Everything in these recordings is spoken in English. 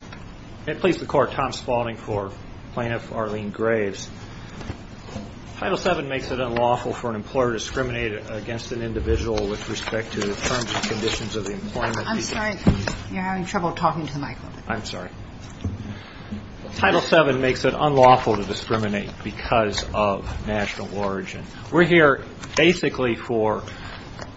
Title VII makes it unlawful for an employer to discriminate against an individual with respect to the terms and conditions of the employment of the individual. Title VII makes it unlawful to discriminate because of national origin. We're here basically for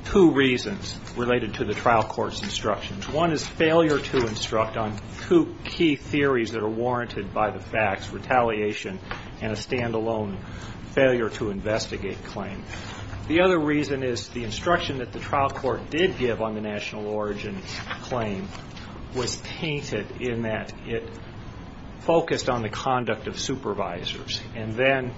two reasons related to the trial court's instructions. One is failure to instruct on two key theories that are warranted by the facts, retaliation and a stand-alone failure to investigate claim. The other reason is the instruction that the trial court did give on the national origin claim was painted in that it focused on the conduct of supervisors. And then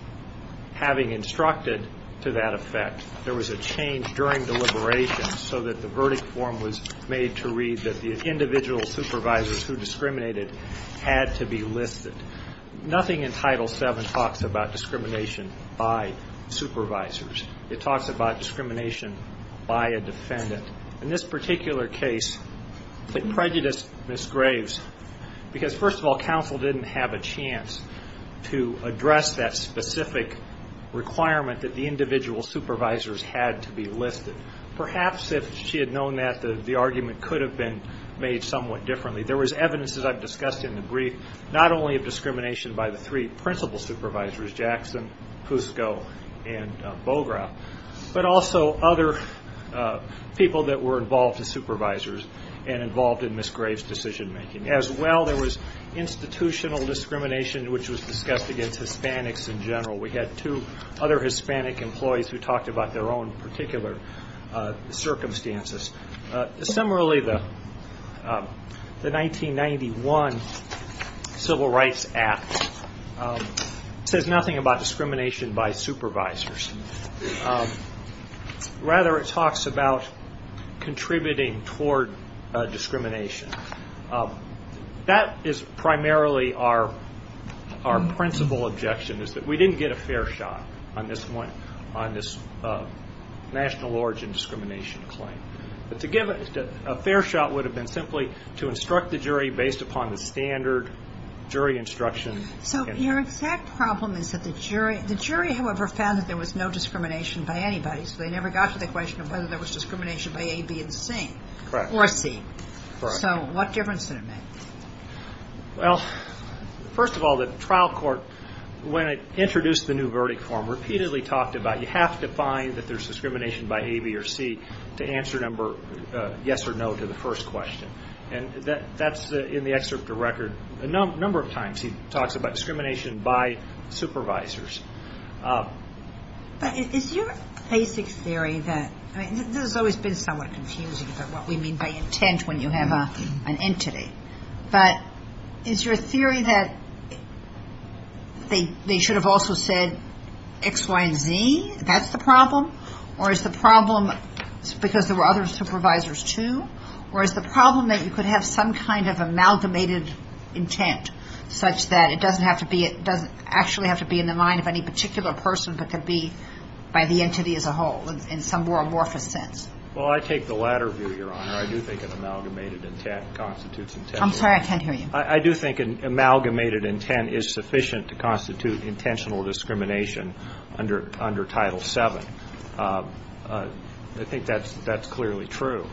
having instructed to that effect, there was a change during deliberation so that the verdict form was made to read that the individual supervisors who discriminated had to be listed. Nothing in Title VII talks about discrimination by supervisors. It talks about discrimination by a defendant. In this particular case, it prejudiced Ms. Graves because first of all, counsel didn't have a chance to address that specific requirement that the individual supervisors had to be listed. Perhaps if she had known that, the argument could have been made somewhat differently. There was evidence, as I've discussed in the brief, not only of discrimination by the three principal supervisors, Jackson, Pusko and Bogra, but also other people that were involved as supervisors and involved in Ms. Graves' decision-making. As well, there was institutional discrimination, which was discussed against Hispanics in general. We had two other Hispanic employees who talked about their own particular circumstances. Similarly, the 1991 Civil Rights Act says nothing about discrimination by supervisors. Rather, it talks about contributing toward discrimination. That is primarily our principal objection. We didn't get a fair shot on this national origin discrimination claim. A fair shot would have been simply to instruct the jury based upon the standard jury instruction. Your exact problem is that the jury, however, found that there was no discrimination by anybody, so they never got to the question of whether there was discrimination by A, B or C. What difference did it make? Well, first of all, the trial court, when it introduced the new verdict form, repeatedly talked about you have to find that there's discrimination by A, B or C to answer number yes or no to the first question. That's in the excerpt of record a number of times he talks about discrimination by supervisors. But is your basic theory that this has always been somewhat confusing about what we mean by intent when you have an entity, but is your theory that they should have also said X, Y and Z? That's the problem? Or is the problem because there were other supervisors too? Or is the problem that you could have some kind of amalgamated intent such that it doesn't have to be, it doesn't actually have to be in the mind of any particular person, but could be by the entity as a whole in some more amorphous sense? Well, I take the latter view, Your Honor. I do think an amalgamated intent constitutes intent. I'm sorry, I can't hear you. I do think an amalgamated intent is sufficient to constitute intentional discrimination under Title VII. I think that's clearly true.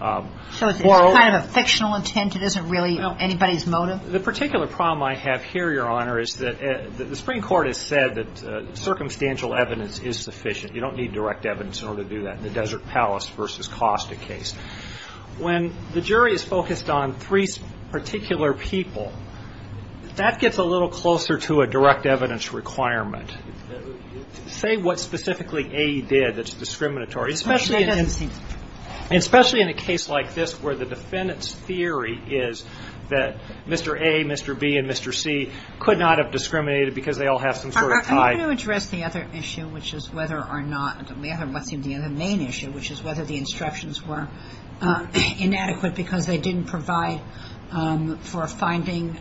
So it's kind of a fictional intent? It isn't really anybody's motive? The particular problem I have here, Your Honor, is that the Supreme Court has said that circumstantial evidence is sufficient. You don't need direct evidence in order to do that in the Desert Palace v. Costa case. When the jury is focused on three particular people, that gets a little closer to a direct evidence requirement. Say what specifically A did that's discriminatory, especially in a case like this where the defendant's theory is that Mr. A, Mr. B and Mr. C could not have discriminated because they all have some sort of tie. I'm going to address the other main issue, which is whether the instructions were inadequate because they didn't provide for finding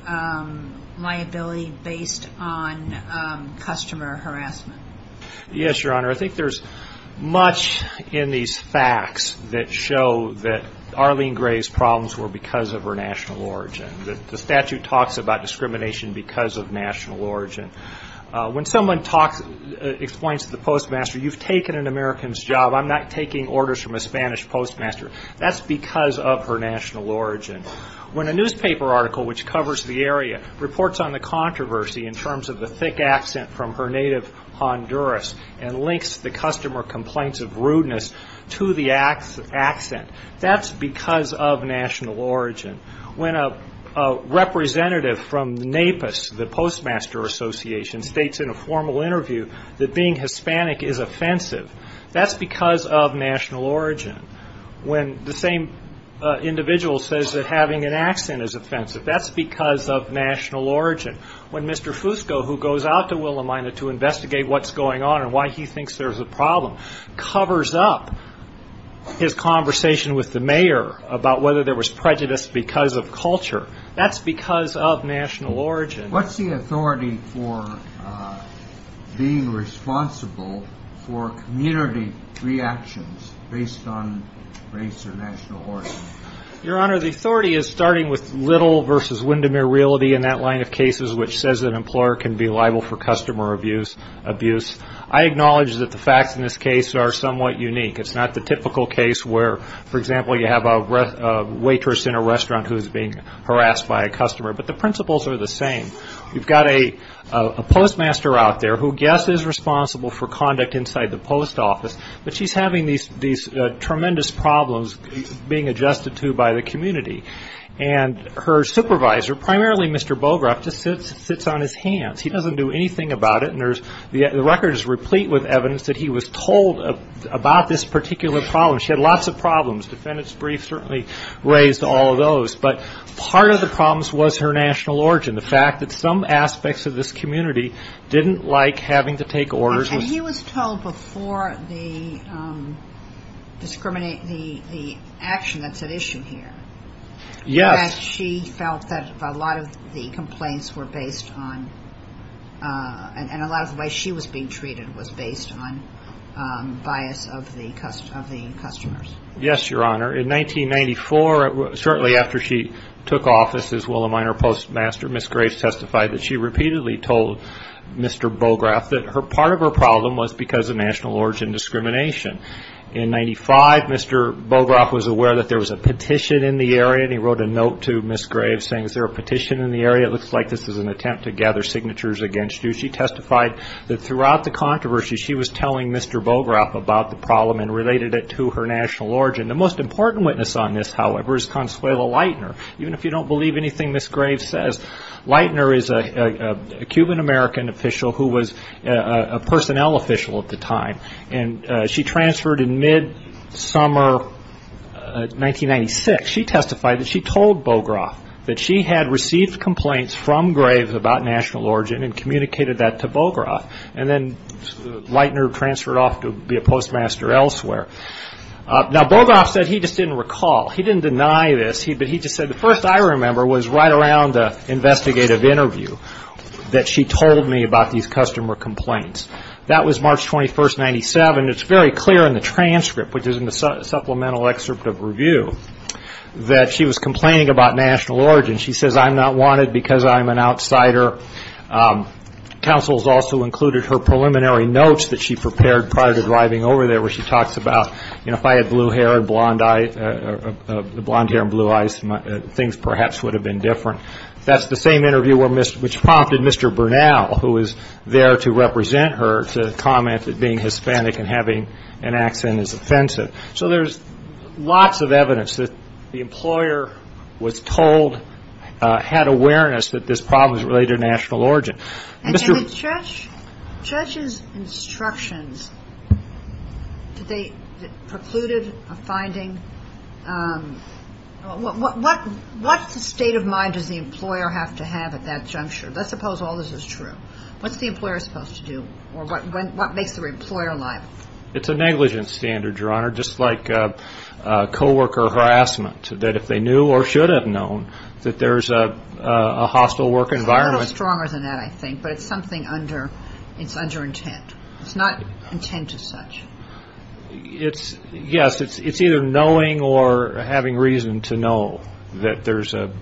liability based on customer harassment. Yes, Your Honor. I think there's much in these facts that show that Arlene Gray's problems were because of her national origin. The statute talks about discrimination because of national origin. When someone explains to the postmaster, you've taken an American's job, I'm not taking orders from a Spanish postmaster, that's because of her national origin. When a newspaper article which covers the area reports on the controversy in terms of the thick accent from her native Honduras and links the customer complaints of rudeness to the accent, that's because of national origin. When a representative from NAPIS, the Postmaster Association, states in a formal interview that being Hispanic is offensive, that's because of national origin. When the same individual says that having an accent is offensive, that's because of national origin. When Mr. Fusco, who goes out to Willamina to investigate what's going on and why he thinks there's a problem, covers up his conversation with the mayor about whether there was prejudice because of culture, that's because of national origin. What's the authority for being responsible for community reactions based on race or national origin? Your Honor, the authority is starting with Little v. Windermere Realty and that line of cases which says an employer can be liable for customer abuse. I acknowledge that the facts in this case are somewhat unique. It's not the typical case where, for example, you have a waitress in a restaurant who is being harassed by a customer, but the principles are the same. You've got a postmaster out there who, yes, is responsible for conduct inside the post office, but she's having these tremendous problems being adjusted to by the community. And her supervisor, primarily Mr. Bogoroff, just sits on his hands. He doesn't do anything about it, and the record is replete with evidence that he was told about this particular problem. She had lots of problems. The defendant's brief certainly raised all of those, but part of the problems was her national origin, the fact that some aspects of this community didn't like having to take orders. And he was told before the action that's at issue here that she felt that a lot of the complaints were based on, and a lot of the way she was being treated was based on, bias of the customers. Yes, Your Honor. In 1994, shortly after she took office as Willa Minor Postmaster, Ms. Graves testified that she repeatedly told Mr. Bogoroff that part of her problem was because of national origin discrimination. In 1995, Mr. Bogoroff was aware that there was a petition in the area, and he wrote a note to Ms. Graves saying, is there a petition in the area? It looks like this is an attempt to gather signatures against you. She testified that throughout the controversy, she was telling Mr. Bogoroff about the problem and related it to her national origin. The most important witness on this, however, is Consuela Leitner. Even if you don't believe anything Ms. Graves says, Leitner is a Cuban-American official who was a personnel official at the time, and she transferred in mid-summer 1996. She testified that she told Bogoroff that she had received complaints from Graves about national origin and communicated that to Bogoroff, and then Leitner transferred off to be a postmaster elsewhere. Now, Bogoroff said he just didn't recall. He didn't deny this, but he just said, the first I remember was right around the investigative interview that she told me about these customer complaints. That was March 21, 1997. It's very clear in the transcript, which is in the supplemental excerpt of review, that she was complaining about national origin. She says, I'm not wanted because I'm an outsider. Counsel has also included her preliminary notes that she prepared prior to driving over there where she talks about, you know, if I had blue hair and blond hair and blue eyes, things perhaps would have been different. That's the same interview which prompted Mr. Bernal, who was there to represent her, to comment that being Hispanic and having an accent is offensive. So there's lots of evidence that the employer was told, had awareness that this problem was related to national origin. And the judge's instructions, did they preclude a finding? What state of mind does the employer have to have at that juncture? Let's suppose all this is true. What's the employer supposed to do, or what makes the employer liable? It's a negligence standard, Your Honor, just like coworker harassment, that if they knew or should have known that there's a hostile work environment. It's a little stronger than that, I think, but it's something under, it's under intent. It's not intent as such. Yes, it's either knowing or having reason to know that there's a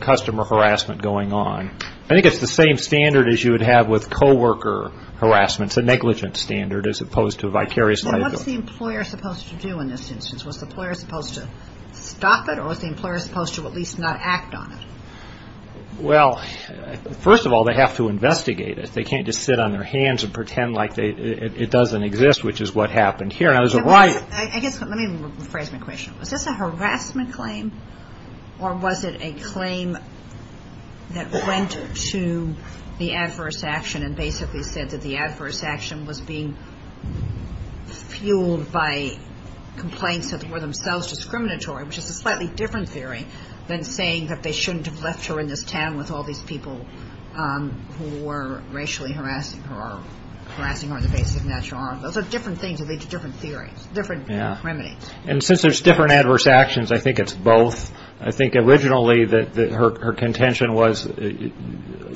customer harassment going on. I think it's the same standard as you would have with coworker harassment. It's a negligence standard as opposed to a vicarious liability. What's the employer supposed to do in this instance? Was the employer supposed to stop it, or was the employer supposed to at least not act on it? Well, first of all, they have to investigate it. They can't just sit on their hands and pretend like it doesn't exist, which is what happened here, and I was right. I guess, let me rephrase my question. Was this a harassment claim, or was it a claim that went to the adverse action and basically said that the adverse action was being fueled by complaints that were themselves discriminatory, which is a slightly different theory than saying that they shouldn't have left her in this town with all these people who were racially harassing her or harassing her on the basis of natural honor. Those are different things that lead to different theories, different remedies. And since there's different adverse actions, I think it's both. I think originally that her contention was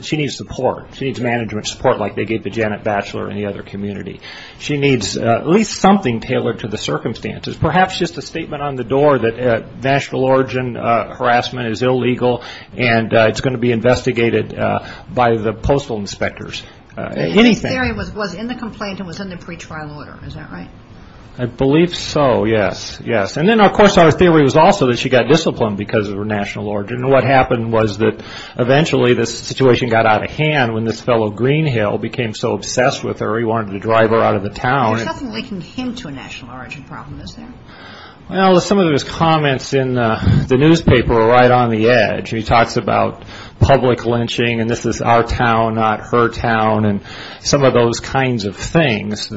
she needs support. She needs management support like they gave to Janet Batchelor and the other community. She needs at least something tailored to the circumstances, perhaps just a statement on the door that national origin harassment is illegal and it's going to be investigated by the postal inspectors, anything. The theory was in the complaint and was in the pretrial order, is that right? I believe so, yes, yes. And then, of course, our theory was also that she got disciplined because of her national origin. And what happened was that eventually this situation got out of hand when this fellow Greenhill became so obsessed with her he wanted to drive her out of the town. There's nothing linking him to a national origin problem, is there? Well, some of his comments in the newspaper are right on the edge. He talks about public lynching and this is our town, not her town and some of those kinds of things.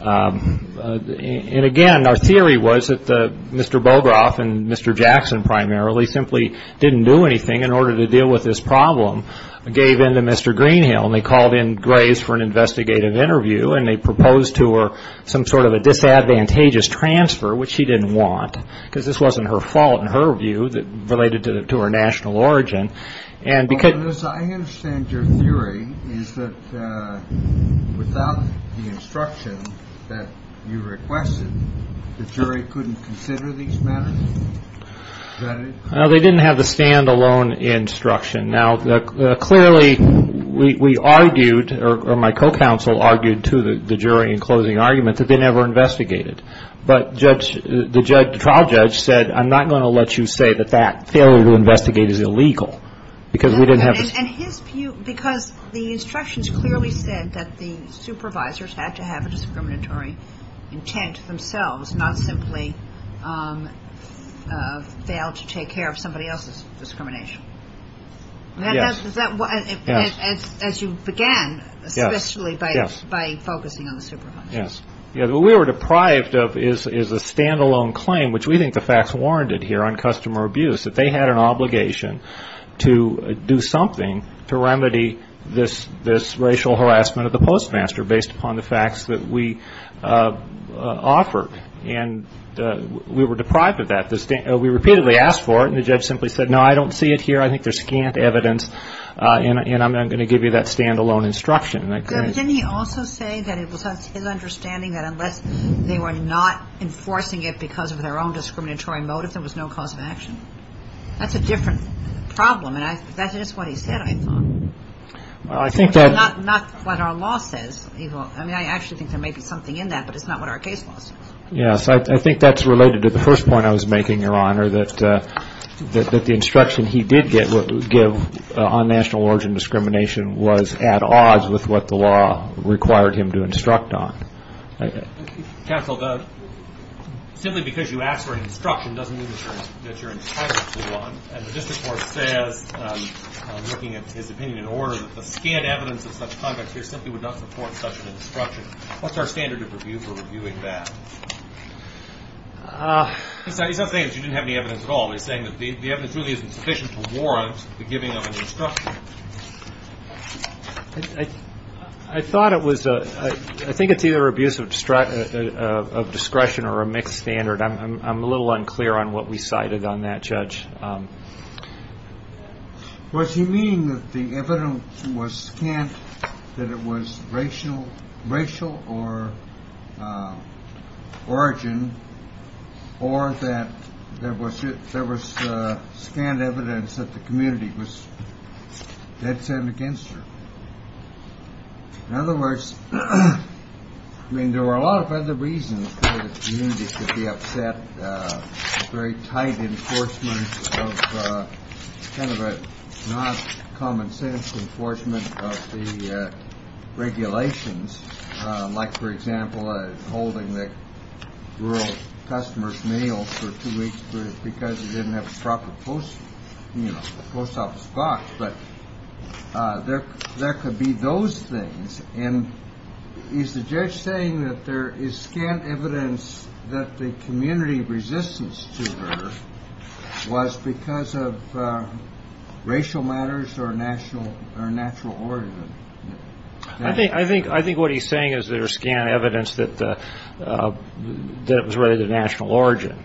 And, again, our theory was that Mr. Bogoroff and Mr. Jackson primarily simply didn't do anything in order to deal with this problem, gave in to Mr. Greenhill. And they called in Graves for an investigative interview and they proposed to her some sort of a disadvantageous transfer, which she didn't want, because this wasn't her fault, in her view, related to her national origin. I understand your theory is that without the instruction that you requested, the jury couldn't consider these matters? No, they didn't have the stand-alone instruction. Now, clearly, we argued or my co-counsel argued to the jury in closing argument that they never investigated. But the trial judge said, I'm not going to let you say that that failure to investigate is illegal. Because the instructions clearly said that the supervisors had to have a discriminatory intent themselves, not simply fail to take care of somebody else's discrimination. Yes. As you began, especially by focusing on the supervisors. Yes. What we were deprived of is a stand-alone claim, which we think the facts warranted here on customer abuse, that they had an obligation to do something to remedy this racial harassment of the postmaster, based upon the facts that we offered. And we were deprived of that. We repeatedly asked for it, and the judge simply said, no, I don't see it here. I think there's scant evidence, and I'm going to give you that stand-alone instruction. But didn't he also say that it was his understanding that unless they were not enforcing it because of their own discriminatory motive, there was no cause of action? That's a different problem, and that's just what he said, I thought. Not what our law says. I mean, I actually think there may be something in that, but it's not what our case law says. Yes. I think that's related to the first point I was making, Your Honor, that the instruction he did give on national origin discrimination was at odds with what the law required him to instruct on. Counsel, simply because you asked for an instruction doesn't mean that you're entitled to one. And the district court says, looking at his opinion in order, that the scant evidence of such conduct here simply would not support such an instruction. What's our standard of review for reviewing that? He's not saying that you didn't have any evidence at all. He's saying that the evidence really isn't sufficient to warrant the giving of an instruction. I thought it was a – I think it's either abuse of discretion or a mixed standard. I'm a little unclear on what we cited on that, Judge. Was he meaning that the evidence was scant, that it was racial or origin, or that there was scant evidence that the community was dead cent against her? In other words, I mean, there were a lot of other reasons for the community to be upset. Very tight enforcement of kind of a not common sense enforcement of the regulations. Like, for example, holding the rural customers mail for two weeks because he didn't have a proper post, you know, post office box. But there could be those things. And is the judge saying that there is scant evidence that the community resistance to her was because of racial matters or national origin? I think what he's saying is there is scant evidence that it was really the national origin.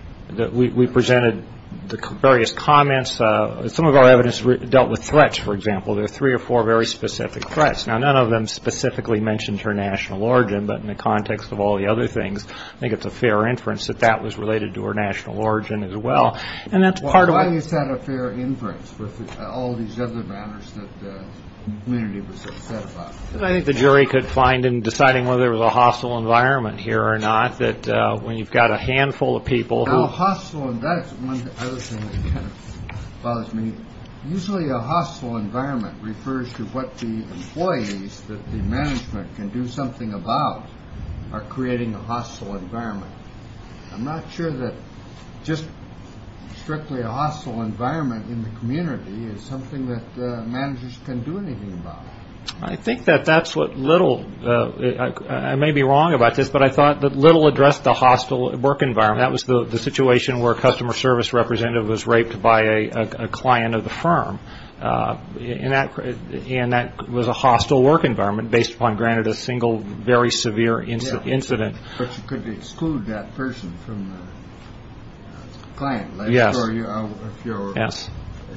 We presented the various comments. Some of our evidence dealt with threats, for example. There are three or four very specific threats. Now, none of them specifically mentioned her national origin, but in the context of all the other things, I think it's a fair inference that that was related to her national origin as well. And that's part of – Why is that a fair inference with all these other matters that the community was upset about? I think the jury could find in deciding whether there was a hostile environment here or not that when you've got a handful of people who – Now, hostile – and that's one other thing that kind of bothers me. Usually a hostile environment refers to what the employees that the management can do something about are creating a hostile environment. I'm not sure that just strictly a hostile environment in the community is something that managers can do anything about. I think that that's what little – I may be wrong about this, but I thought that little addressed the hostile work environment. That was the situation where a customer service representative was raped by a client of the firm. And that was a hostile work environment based upon, granted, a single very severe incident. But you could exclude that person from the client. Yes. If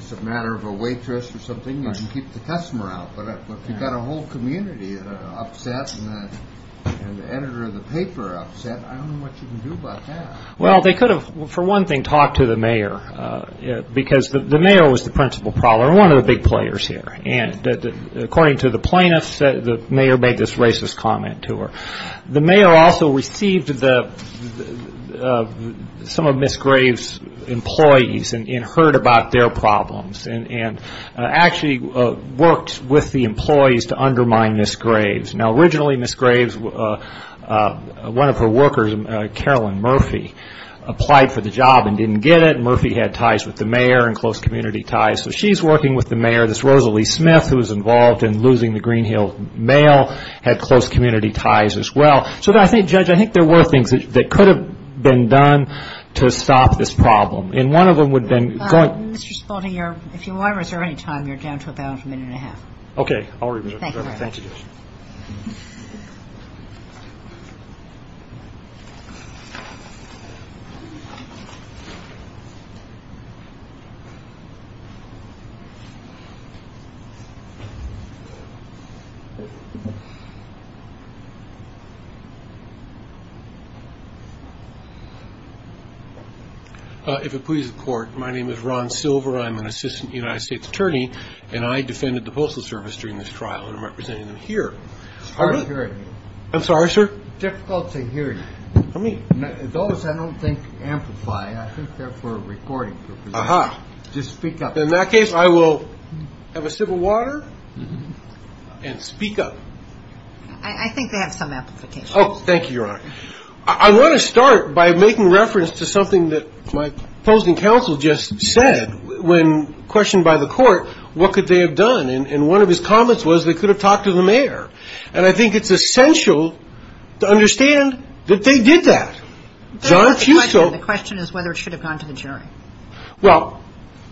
it's a matter of a waitress or something, you can keep the customer out. But if you've got a whole community upset and the editor of the paper upset, I don't know what you can do about that. Well, they could have, for one thing, talked to the mayor because the mayor was the principal problem, one of the big players here. And according to the plaintiffs, the mayor made this racist comment to her. The mayor also received some of Ms. Graves' employees and heard about their problems and actually worked with the employees to undermine Ms. Graves. Now, originally, Ms. Graves, one of her workers, Carolyn Murphy, applied for the job and didn't get it. Murphy had ties with the mayor and close community ties. So she's working with the mayor. This Rosalie Smith, who was involved in losing the Green Hill mail, had close community ties as well. So I think, Judge, I think there were things that could have been done to stop this problem. Mr. Spalding, if you want to reserve any time, you're down to about a minute and a half. Okay. I'll reserve. Thank you. Thank you. If it pleases the Court, my name is Ron Silver. I'm an assistant United States attorney, and I defended the Postal Service during this trial. I'm representing them here. It's hard to hear you. I'm sorry, sir? Difficult to hear you. What do you mean? Those, I don't think, amplify. I think they're for recording purposes. Aha. Just speak up. In that case, I will have a sip of water and speak up. I think they have some amplification. Oh, thank you, Your Honor. I want to start by making reference to something that my opposing counsel just said. When questioned by the Court, what could they have done? And one of his comments was they could have talked to the mayor. And I think it's essential to understand that they did that. John Fusco. The question is whether it should have gone to the jury. Well.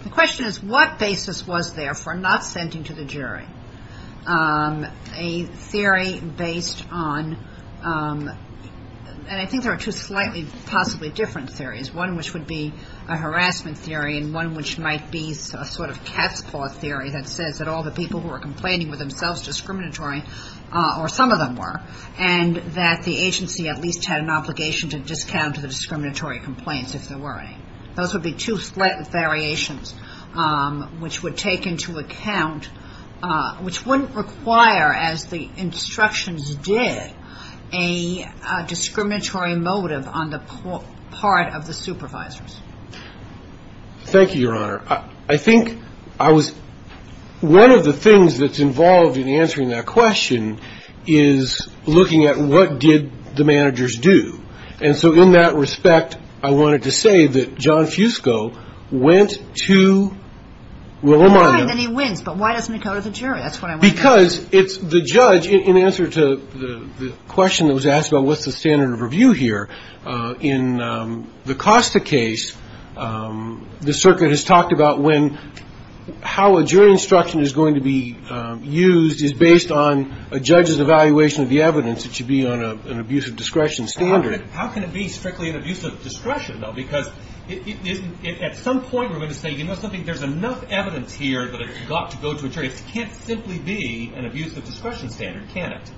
The question is what basis was there for not sending to the jury a theory based on, and I think there are two slightly possibly different theories, one which would be a harassment theory and one which might be a sort of cat's paw theory that says that all the people who are complaining were themselves discriminatory, or some of them were, and that the agency at least had an obligation to discount the discriminatory complaints, if there were any. Those would be two slight variations which would take into account, which wouldn't require, as the instructions did, a discriminatory motive on the part of the supervisors. Thank you, Your Honor. I think I was, one of the things that's involved in answering that question is looking at what did the managers do. And so in that respect, I wanted to say that John Fusco went to Willamina. Fine, then he wins, but why doesn't he go to the jury? That's what I want to know. Because it's the judge, in answer to the question that was asked about what's the standard of review here, in the Costa case, the circuit has talked about when, how a jury instruction is going to be used is based on a judge's evaluation of the evidence. It should be on an abuse of discretion standard. How can it be strictly an abuse of discretion, though? Because at some point we're going to say, you know something, there's enough evidence here that it's got to go to a jury. It can't simply be an abuse of discretion standard, can it?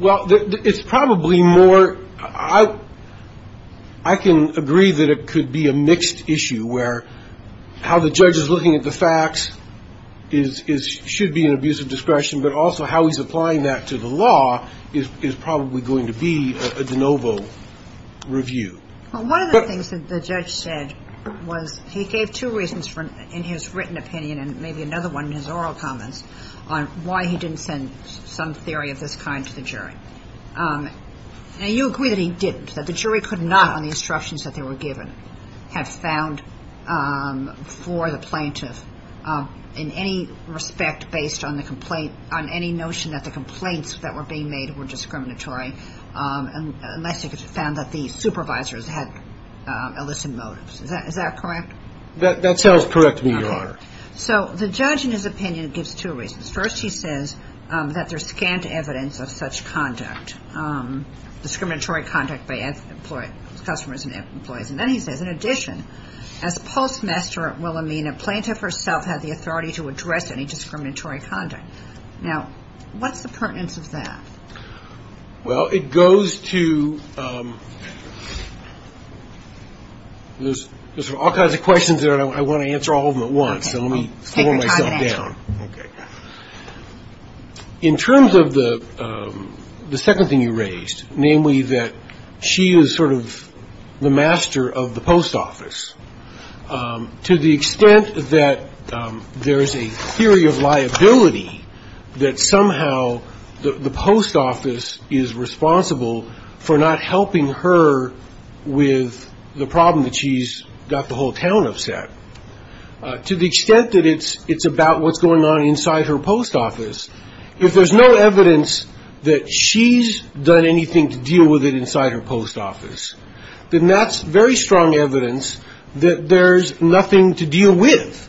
Well, it's probably more, I can agree that it could be a mixed issue, where how the judge is looking at the facts should be an abuse of discretion, but also how he's applying that to the law is probably going to be a de novo review. Well, one of the things that the judge said was he gave two reasons in his written opinion and maybe another one in his oral comments on why he didn't send some theory of this kind to the jury. Now, you agree that he didn't, that the jury could not, on the instructions that they were given, have found for the plaintiff in any respect based on the complaint, on any notion that the complaints that were being made were discriminatory, unless they found that the supervisors had illicit motives. Is that correct? That sounds correct to me, Your Honor. So the judge, in his opinion, gives two reasons. First, he says that there's scant evidence of such conduct, discriminatory conduct by customers and employees. And then he says, in addition, as postmaster at Wilhelmina, plaintiff herself had the authority to address any discriminatory conduct. Now, what's the pertinence of that? Well, it goes to, there's all kinds of questions there, and I want to answer all of them at once. So let me slow myself down. Okay. In terms of the second thing you raised, namely that she is sort of the master of the post office, to the extent that there is a theory of liability that somehow the post office is responsible for not helping her with the problem that she's got the whole town upset, to the extent that it's about what's going on inside her post office, if there's no evidence that she's done anything to deal with it inside her post office, then that's very strong evidence that there's nothing to deal with.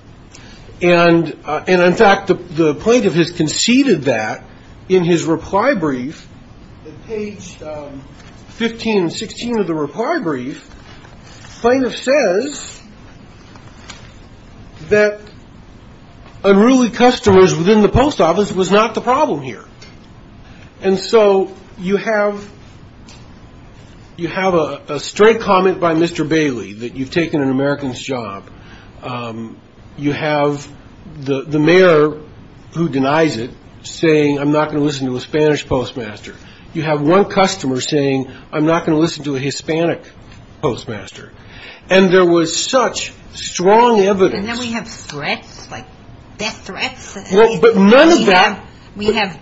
And, in fact, the plaintiff has conceded that in his reply brief, at page 15 and 16 of the reply brief, plaintiff says that unruly customers within the post office was not the problem here. And so you have a straight comment by Mr. Bailey that you've taken an American's job. You have the mayor, who denies it, saying, I'm not going to listen to a Spanish postmaster. You have one customer saying, I'm not going to listen to a Hispanic postmaster. And there was such strong evidence. And then we have threats, like death threats. But none of that. We have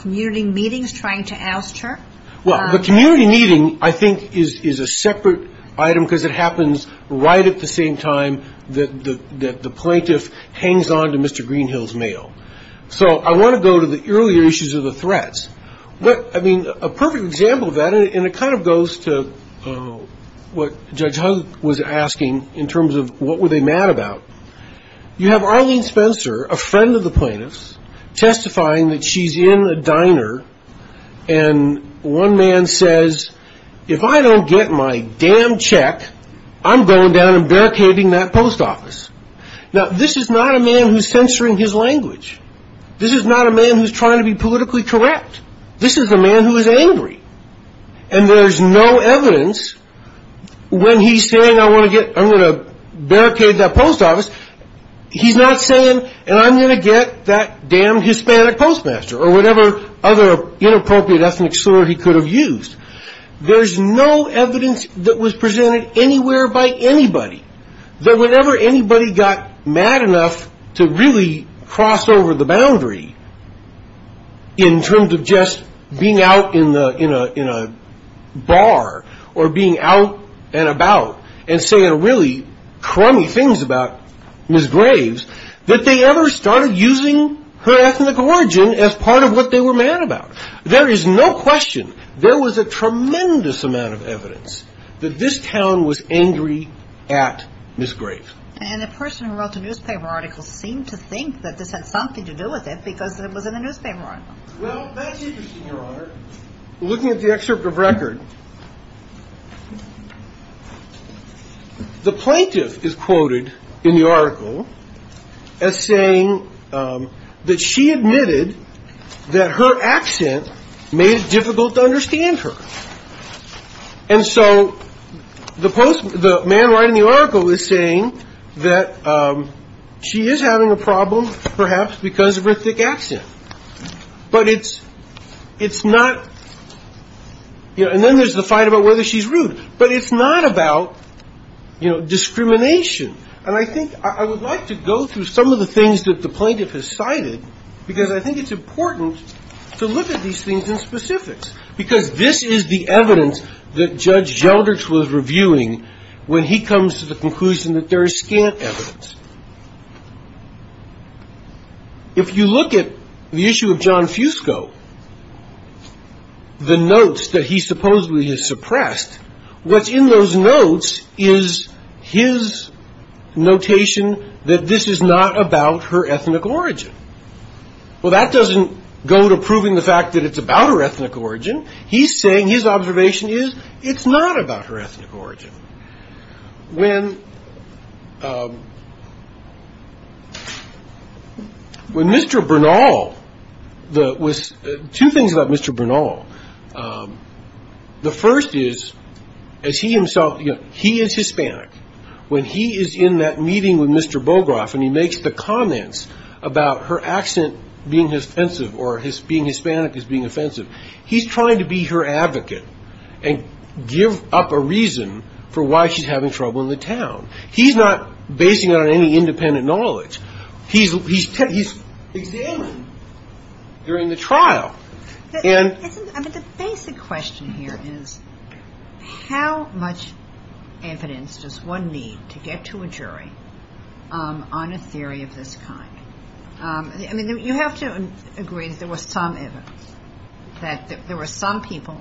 community meetings trying to oust her. Well, the community meeting, I think, is a separate item, because it happens right at the same time that the plaintiff hangs on to Mr. Greenhill's mail. So I want to go to the earlier issues of the threats. I mean, a perfect example of that, and it kind of goes to what Judge Hunt was asking in terms of what were they mad about. You have Arlene Spencer, a friend of the plaintiff's, testifying that she's in a diner, and one man says, if I don't get my damn check, I'm going down and barricading that post office. Now, this is not a man who's censoring his language. This is not a man who's trying to be politically correct. This is a man who is angry. And there's no evidence when he's saying, I'm going to barricade that post office, he's not saying, and I'm going to get that damn Hispanic postmaster, or whatever other inappropriate ethnic slur he could have used. There's no evidence that was presented anywhere by anybody that whenever anybody got mad enough to really cross over the boundary in terms of just being out in a bar or being out and about and saying really crummy things about Ms. Graves, that they ever started using her ethnic origin as part of what they were mad about. There is no question. There was a tremendous amount of evidence that this town was angry at Ms. Graves. And the person who wrote the newspaper article seemed to think that this had something to do with it because it was in the newspaper article. Well, that's interesting, Your Honor. Looking at the excerpt of record, the plaintiff is quoted in the article as saying that she admitted that her accent made it difficult to understand her. And so the man writing the article is saying that she is having a problem, perhaps, because of her thick accent. But it's not, you know, and then there's the fight about whether she's rude. But it's not about, you know, discrimination. And I think I would like to go through some of the things that the plaintiff has cited because I think it's important to look at these things in specifics because this is the evidence that Judge Gelderts was reviewing when he comes to the conclusion that there is scant evidence. If you look at the issue of John Fusco, the notes that he supposedly has suppressed, what's in those notes is his notation that this is not about her ethnic origin. Well, that doesn't go to proving the fact that it's about her ethnic origin. He's saying his observation is it's not about her ethnic origin. When Mr. Bernal was – two things about Mr. Bernal. The first is, as he himself – he is Hispanic. When he is in that meeting with Mr. Bogroff and he makes the comments about her accent being offensive or being Hispanic as being offensive, he's trying to be her advocate and give up a reason for why she's having trouble in the town. He's not basing it on any independent knowledge. He's examined during the trial. I mean, the basic question here is, how much evidence does one need to get to a jury on a theory of this kind? I mean, you have to agree that there was some evidence, that there were some people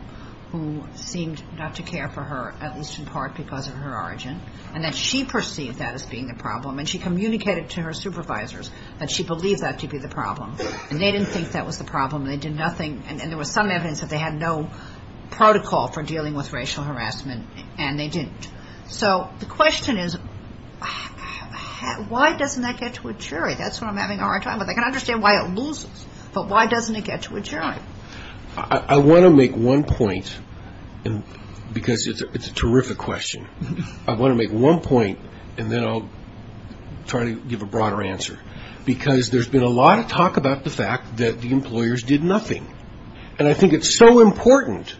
who seemed not to care for her, at least in part because of her origin, and that she perceived that as being the problem, and she communicated to her supervisors that she believed that to be the problem. And they didn't think that was the problem. They did nothing. And there was some evidence that they had no protocol for dealing with racial harassment, and they didn't. So the question is, why doesn't that get to a jury? That's what I'm having a hard time with. I can understand why it loses, but why doesn't it get to a jury? I want to make one point, because it's a terrific question. I want to make one point, and then I'll try to give a broader answer, because there's been a lot of talk about the fact that the employers did nothing. And I think it's so important,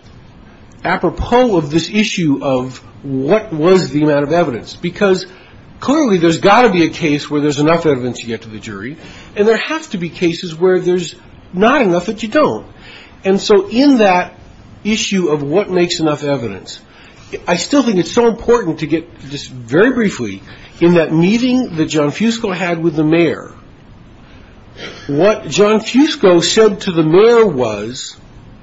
apropos of this issue of what was the amount of evidence, because clearly there's got to be a case where there's enough evidence to get to the jury, and there have to be cases where there's not enough that you don't. And so in that issue of what makes enough evidence, I still think it's so important to get just very briefly, in that meeting that John Fusco had with the mayor, what John Fusco said to the mayor was,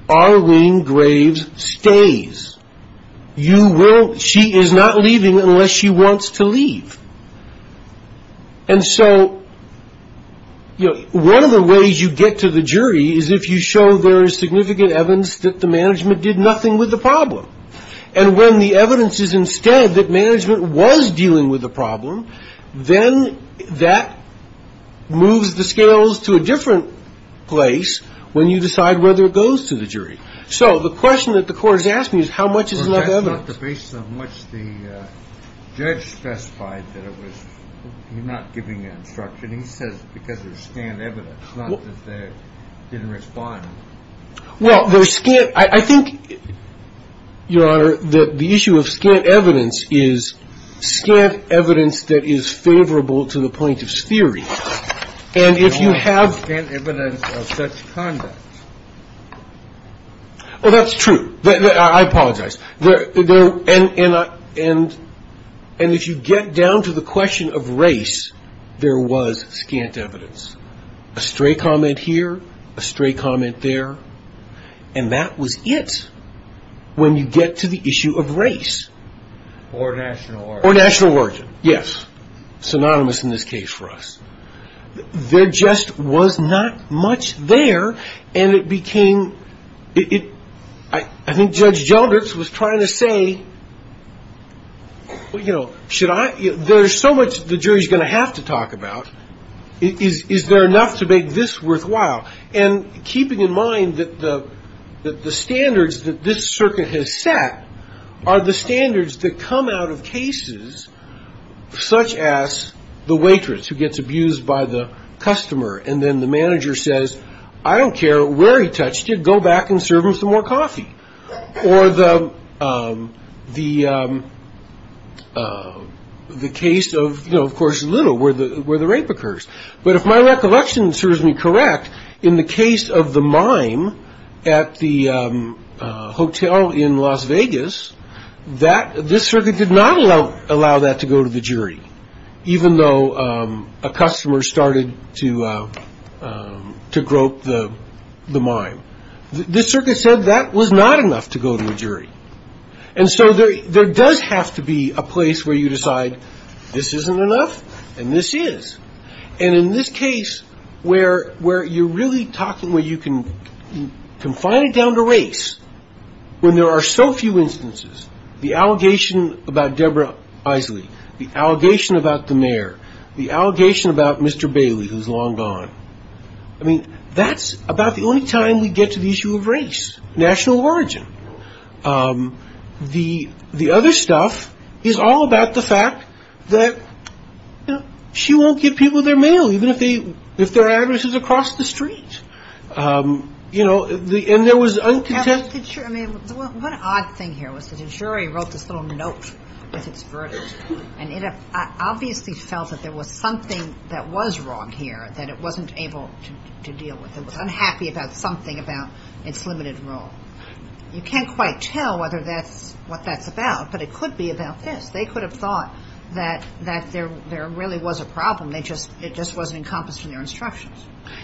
Arlene Graves stays. She is not leaving unless she wants to leave. And so one of the ways you get to the jury is if you show there is significant evidence that the management did nothing with the problem. And when the evidence is instead that management was dealing with the problem, then that moves the scales to a different place when you decide whether it goes to the jury. So the question that the court is asking is how much is enough evidence? Well, that's not the basis on which the judge specified that it was. You're not giving an instruction. He says because there's scant evidence, not that they didn't respond. Well, there's scant. I think, Your Honor, that the issue of scant evidence is scant evidence that is favorable to the plaintiff's theory. And if you have scant evidence of such conduct. Well, that's true. I apologize. And if you get down to the question of race, there was scant evidence. A stray comment here, a stray comment there. And that was it when you get to the issue of race. Or national origin. Or national origin. Yes. Synonymous in this case for us. There just was not much there, and it became ‑‑ I think Judge Jelders was trying to say, you know, there's so much the jury is going to have to talk about. Is there enough to make this worthwhile? And keeping in mind that the standards that this circuit has set are the standards that come out of cases such as the waitress who gets abused by the customer and then the manager says, I don't care where he touched you, go back and serve him some more coffee. Or the case of, you know, of course Little where the rape occurs. But if my recollection serves me correct, in the case of the mime at the hotel in Las Vegas, this circuit did not allow that to go to the jury, even though a customer started to grope the mime. This circuit said that was not enough to go to a jury. And so there does have to be a place where you decide this isn't enough and this is. And in this case, where you're really talking where you can confine it down to race, when there are so few instances, the allegation about Deborah Isley, the allegation about the mayor, the allegation about Mr. Bailey, who's long gone, I mean, that's about the only time we get to the issue of race, national origin. The other stuff is all about the fact that, you know, she won't give people their mail, even if their address is across the street. You know, and there was uncontested. I mean, one odd thing here was that the jury wrote this little note with its verdict and it obviously felt that there was something that was wrong here that it wasn't able to deal with. It was unhappy about something about its limited role. You can't quite tell whether that's what that's about, but it could be about this. They could have thought that there really was a problem. It just wasn't encompassed in their instructions.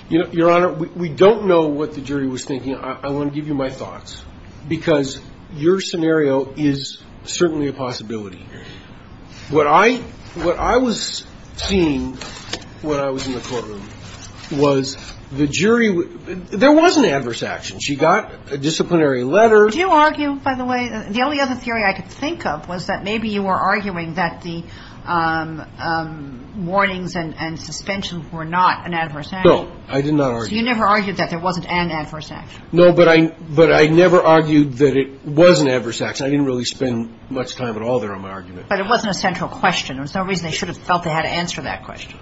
Your Honor, we don't know what the jury was thinking. I want to give you my thoughts because your scenario is certainly a possibility. What I was seeing when I was in the courtroom was the jury – there was an adverse action. She got a disciplinary letter. Do you argue, by the way – the only other theory I could think of was that maybe you were arguing that the warnings and suspensions were not an adverse action. No, I did not argue that. So you never argued that there wasn't an adverse action. No, but I never argued that it was an adverse action. I didn't really spend much time at all there on my argument. But it wasn't a central question. There was no reason they should have felt they had to answer that question.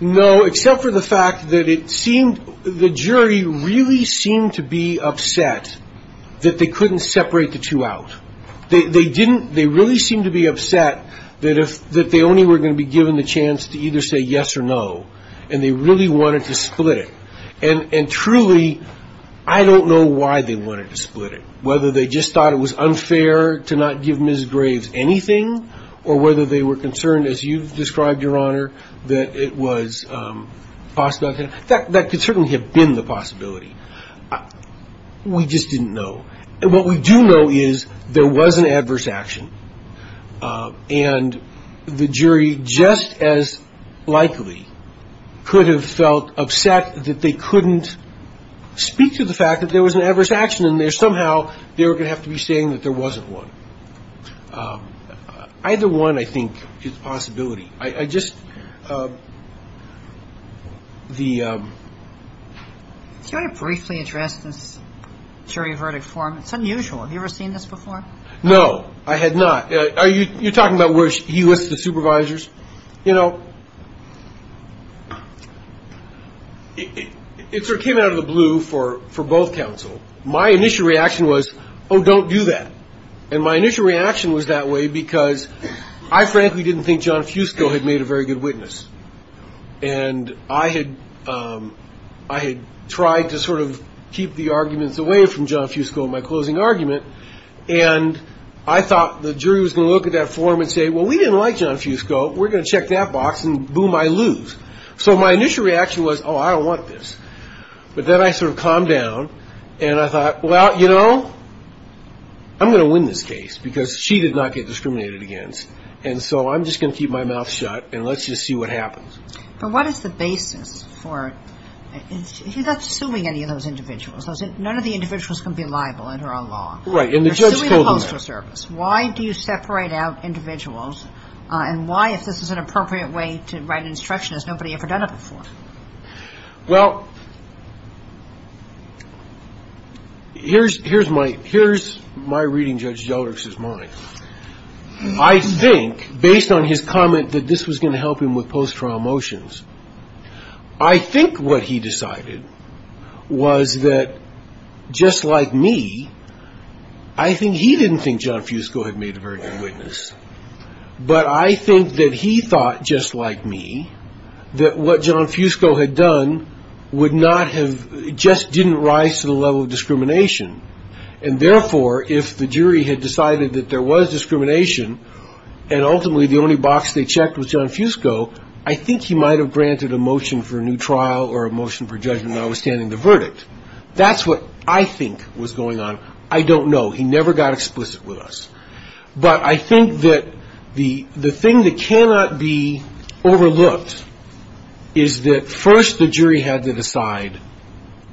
No, except for the fact that the jury really seemed to be upset that they couldn't separate the two out. They really seemed to be upset that they only were going to be given the chance to either say yes or no, and they really wanted to split it. And truly, I don't know why they wanted to split it, whether they just thought it was unfair to not give Ms. Graves anything or whether they were concerned, as you've described, Your Honor, that it was a possibility. That could certainly have been the possibility. We just didn't know. And what we do know is there was an adverse action, and the jury just as likely could have felt upset that they couldn't speak to the fact that there was an adverse action, and somehow they were going to have to be saying that there wasn't one. Either one, I think, is a possibility. I just – the – Do you want to briefly address this jury verdict form? It's unusual. Have you ever seen this before? No, I had not. Are you talking about where he lists the supervisors? You know, it sort of came out of the blue for both counsel. My initial reaction was, oh, don't do that. And my initial reaction was that way because I frankly didn't think John Fusco had made a very good witness. And I had tried to sort of keep the arguments away from John Fusco in my closing argument, and I thought the jury was going to look at that form and say, well, we didn't like John Fusco. We're going to check that box, and boom, I lose. So my initial reaction was, oh, I don't want this. But then I sort of calmed down, and I thought, well, you know, I'm going to win this case because she did not get discriminated against, and so I'm just going to keep my mouth shut and let's just see what happens. But what is the basis for – he's not suing any of those individuals. None of the individuals can be liable under our law. Right, and the judge told him that. Why do you separate out individuals, and why, if this is an appropriate way to write an instruction as nobody ever done it before? Well, here's my reading Judge Gellerich's mind. I think, based on his comment that this was going to help him with post-trial motions, I think what he decided was that, just like me, I think he didn't think John Fusco had made a very good witness, but I think that he thought, just like me, that what John Fusco had done would not have – just didn't rise to the level of discrimination, and therefore, if the jury had decided that there was discrimination, and ultimately the only box they checked was John Fusco, I think he might have granted a motion for a new trial or a motion for judgment notwithstanding the verdict. That's what I think was going on. I don't know. He never got explicit with us. But I think that the thing that cannot be overlooked is that first the jury had to decide,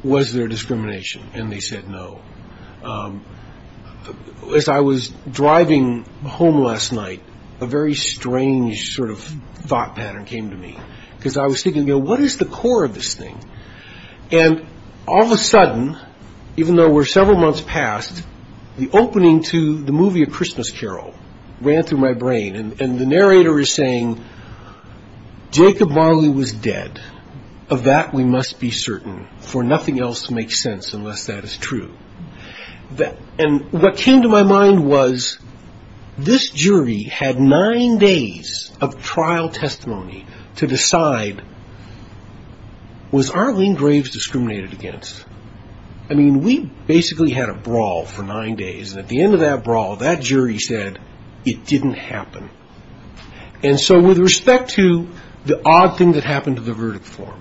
was there discrimination? And they said no. As I was driving home last night, a very strange sort of thought pattern came to me, because I was thinking, what is the core of this thing? And all of a sudden, even though we're several months past, the opening to the movie A Christmas Carol ran through my brain, and the narrator is saying, Jacob Marley was dead. Of that we must be certain, for nothing else makes sense unless that is true. And what came to my mind was, this jury had nine days of trial testimony to decide, was Arlene Graves discriminated against? I mean, we basically had a brawl for nine days, and at the end of that brawl, that jury said it didn't happen. And so with respect to the odd thing that happened to the verdict form,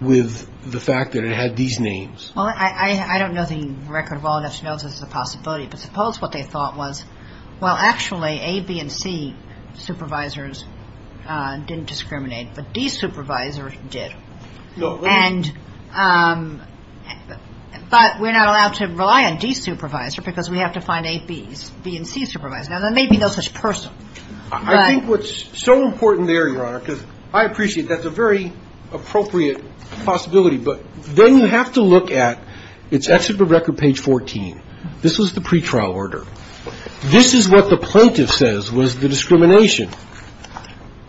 with the fact that it had these names. Well, I don't know the record well enough to know this is a possibility, but suppose what they thought was, well, actually, A, B, and C supervisors didn't discriminate, but D supervisor did. And, but we're not allowed to rely on D supervisor because we have to find A, B's, B and C supervisor. Now, there may be no such person. I think what's so important there, Your Honor, because I appreciate that's a very appropriate possibility, but then you have to look at, it's actually record page 14. This was the pretrial order. This is what the plaintiff says was the discrimination.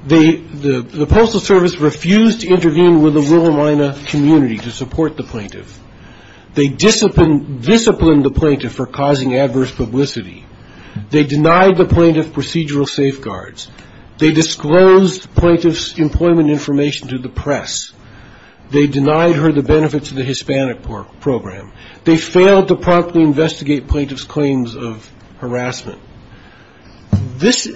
The Postal Service refused to intervene with the Willamina community to support the plaintiff. They disciplined the plaintiff for causing adverse publicity. They denied the plaintiff procedural safeguards. They disclosed plaintiff's employment information to the press. They denied her the benefits of the Hispanic program. They failed to promptly investigate plaintiff's claims of harassment. This,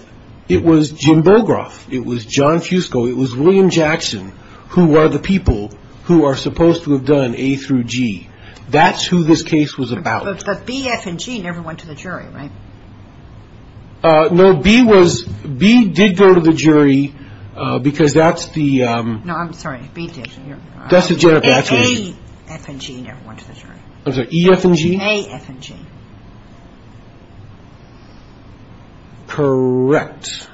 it was Jim Bogroff, it was John Fusco, it was William Jackson who are the people who are supposed to have done A through G. That's who this case was about. But B, F, and G never went to the jury, right? No, B was, B did go to the jury because that's the... No, I'm sorry, B did. A, F, and G never went to the jury. I'm sorry, E, F, and G? A, F, and G. Correct.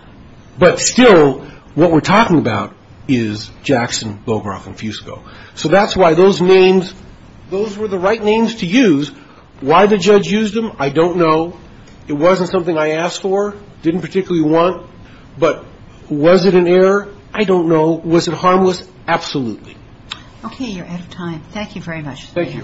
But still, what we're talking about is Jackson, Bogroff, and Fusco. So that's why those names, those were the right names to use. Why the judge used them, I don't know. It wasn't something I asked for, didn't particularly want. But was it an error? I don't know. Was it harmless? Absolutely. Okay, you're out of time. Thank you very much. Thank you.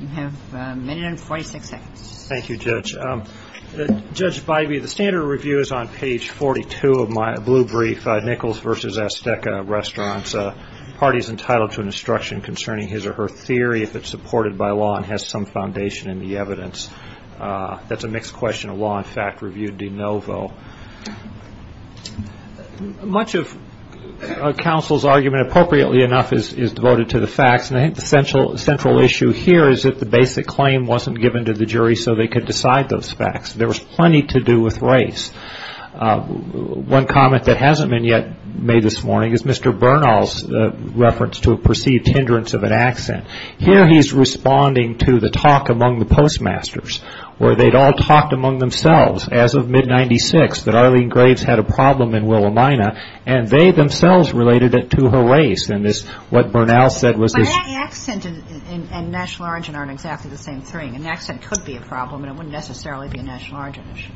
You have a minute and 46 seconds. Thank you, Judge. Judge Bybee, the standard review is on page 42 of my blue brief, Nichols v. Azteca Restaurants, parties entitled to an instruction concerning his or her theory, if it's supported by law and has some foundation in the evidence. That's a mixed question of law and fact review de novo. Much of counsel's argument, appropriately enough, is devoted to the facts, and I think the central issue here is that the basic claim wasn't given to the jury so they could decide those facts. There was plenty to do with race. One comment that hasn't been yet made this morning is Mr. Bernal's reference to a perceived hindrance of an accent. Here he's responding to the talk among the postmasters where they'd all talked among themselves as of mid-'96 that Arlene Graves had a problem in Willamina, and they themselves related it to her race, and what Bernal said was this. But an accent and national origin aren't exactly the same thing. An accent could be a problem, and it wouldn't necessarily be a national origin issue.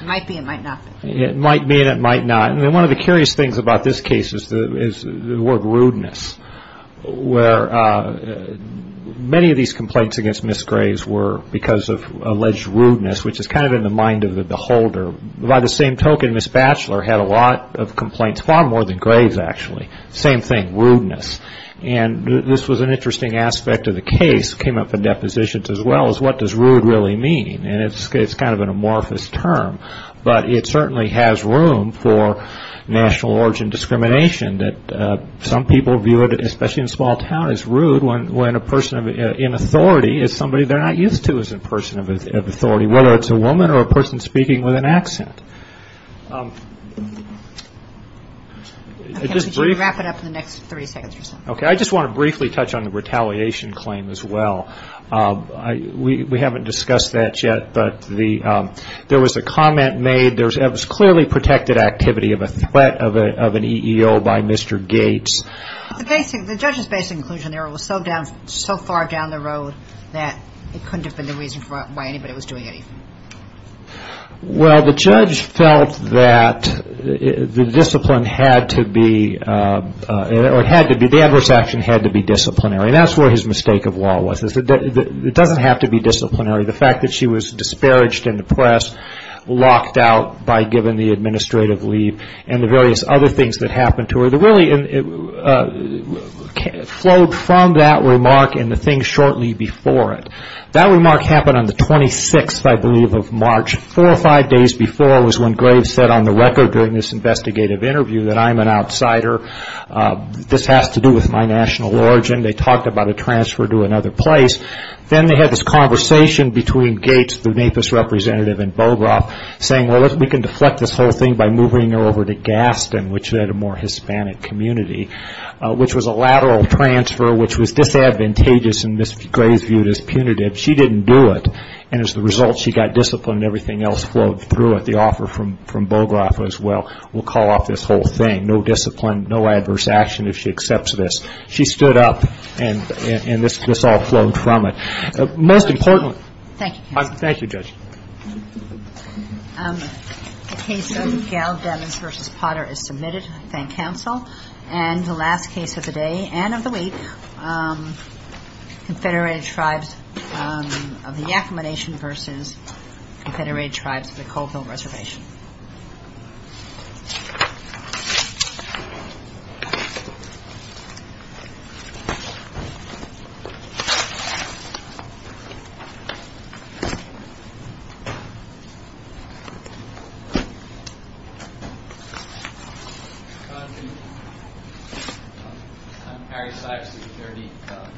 It might be and it might not be. It might be and it might not. One of the curious things about this case is the word rudeness, where many of these complaints against Ms. Graves were because of alleged rudeness, which is kind of in the mind of the beholder. By the same token, Ms. Batchelor had a lot of complaints, far more than Graves, actually. Same thing, rudeness. And this was an interesting aspect of the case, came up in depositions as well, is what does rude really mean, and it's kind of an amorphous term, but it certainly has room for national origin discrimination. Some people view it, especially in a small town, as rude when a person in authority is somebody they're not used to as a person of authority, whether it's a woman or a person speaking with an accent. Could you wrap it up in the next 30 seconds or so? Okay. I just want to briefly touch on the retaliation claim as well. We haven't discussed that yet, but there was a comment made, it was clearly protected activity of a threat of an EEO by Mr. Gates. The judge's basic conclusion there was so far down the road that it couldn't have been the reason why anybody was doing anything. Well, the judge felt that the discipline had to be, the adverse action had to be disciplinary, and that's where his mistake of law was, that it doesn't have to be disciplinary. The fact that she was disparaged in the press, locked out by giving the administrative leave, and the various other things that happened to her, really flowed from that remark and the things shortly before it. That remark happened on the 26th, I believe, of March. Four or five days before was when Graves said on the record during this investigative interview that I'm an outsider, this has to do with my national origin. They talked about a transfer to another place. Then they had this conversation between Gates, the NAPIS representative in Bogoroff, saying, well, we can deflect this whole thing by moving her over to Gaston, which had a more Hispanic community, which was a lateral transfer, which was disadvantageous and Ms. Graves viewed as punitive. She didn't do it, and as a result she got disciplined and everything else flowed through it. The offer from Bogoroff was, well, we'll call off this whole thing, no discipline, no adverse action if she accepts this. She stood up and this all flowed from it. Most importantly. Thank you, Judge. Thank you, Judge. The case of Gal Demmons v. Potter is submitted. Thank counsel. And the last case of the day and of the week, Confederated Tribes of the Yakama Nation v. Confederated Tribes of the Coalville Reservation. Thank you.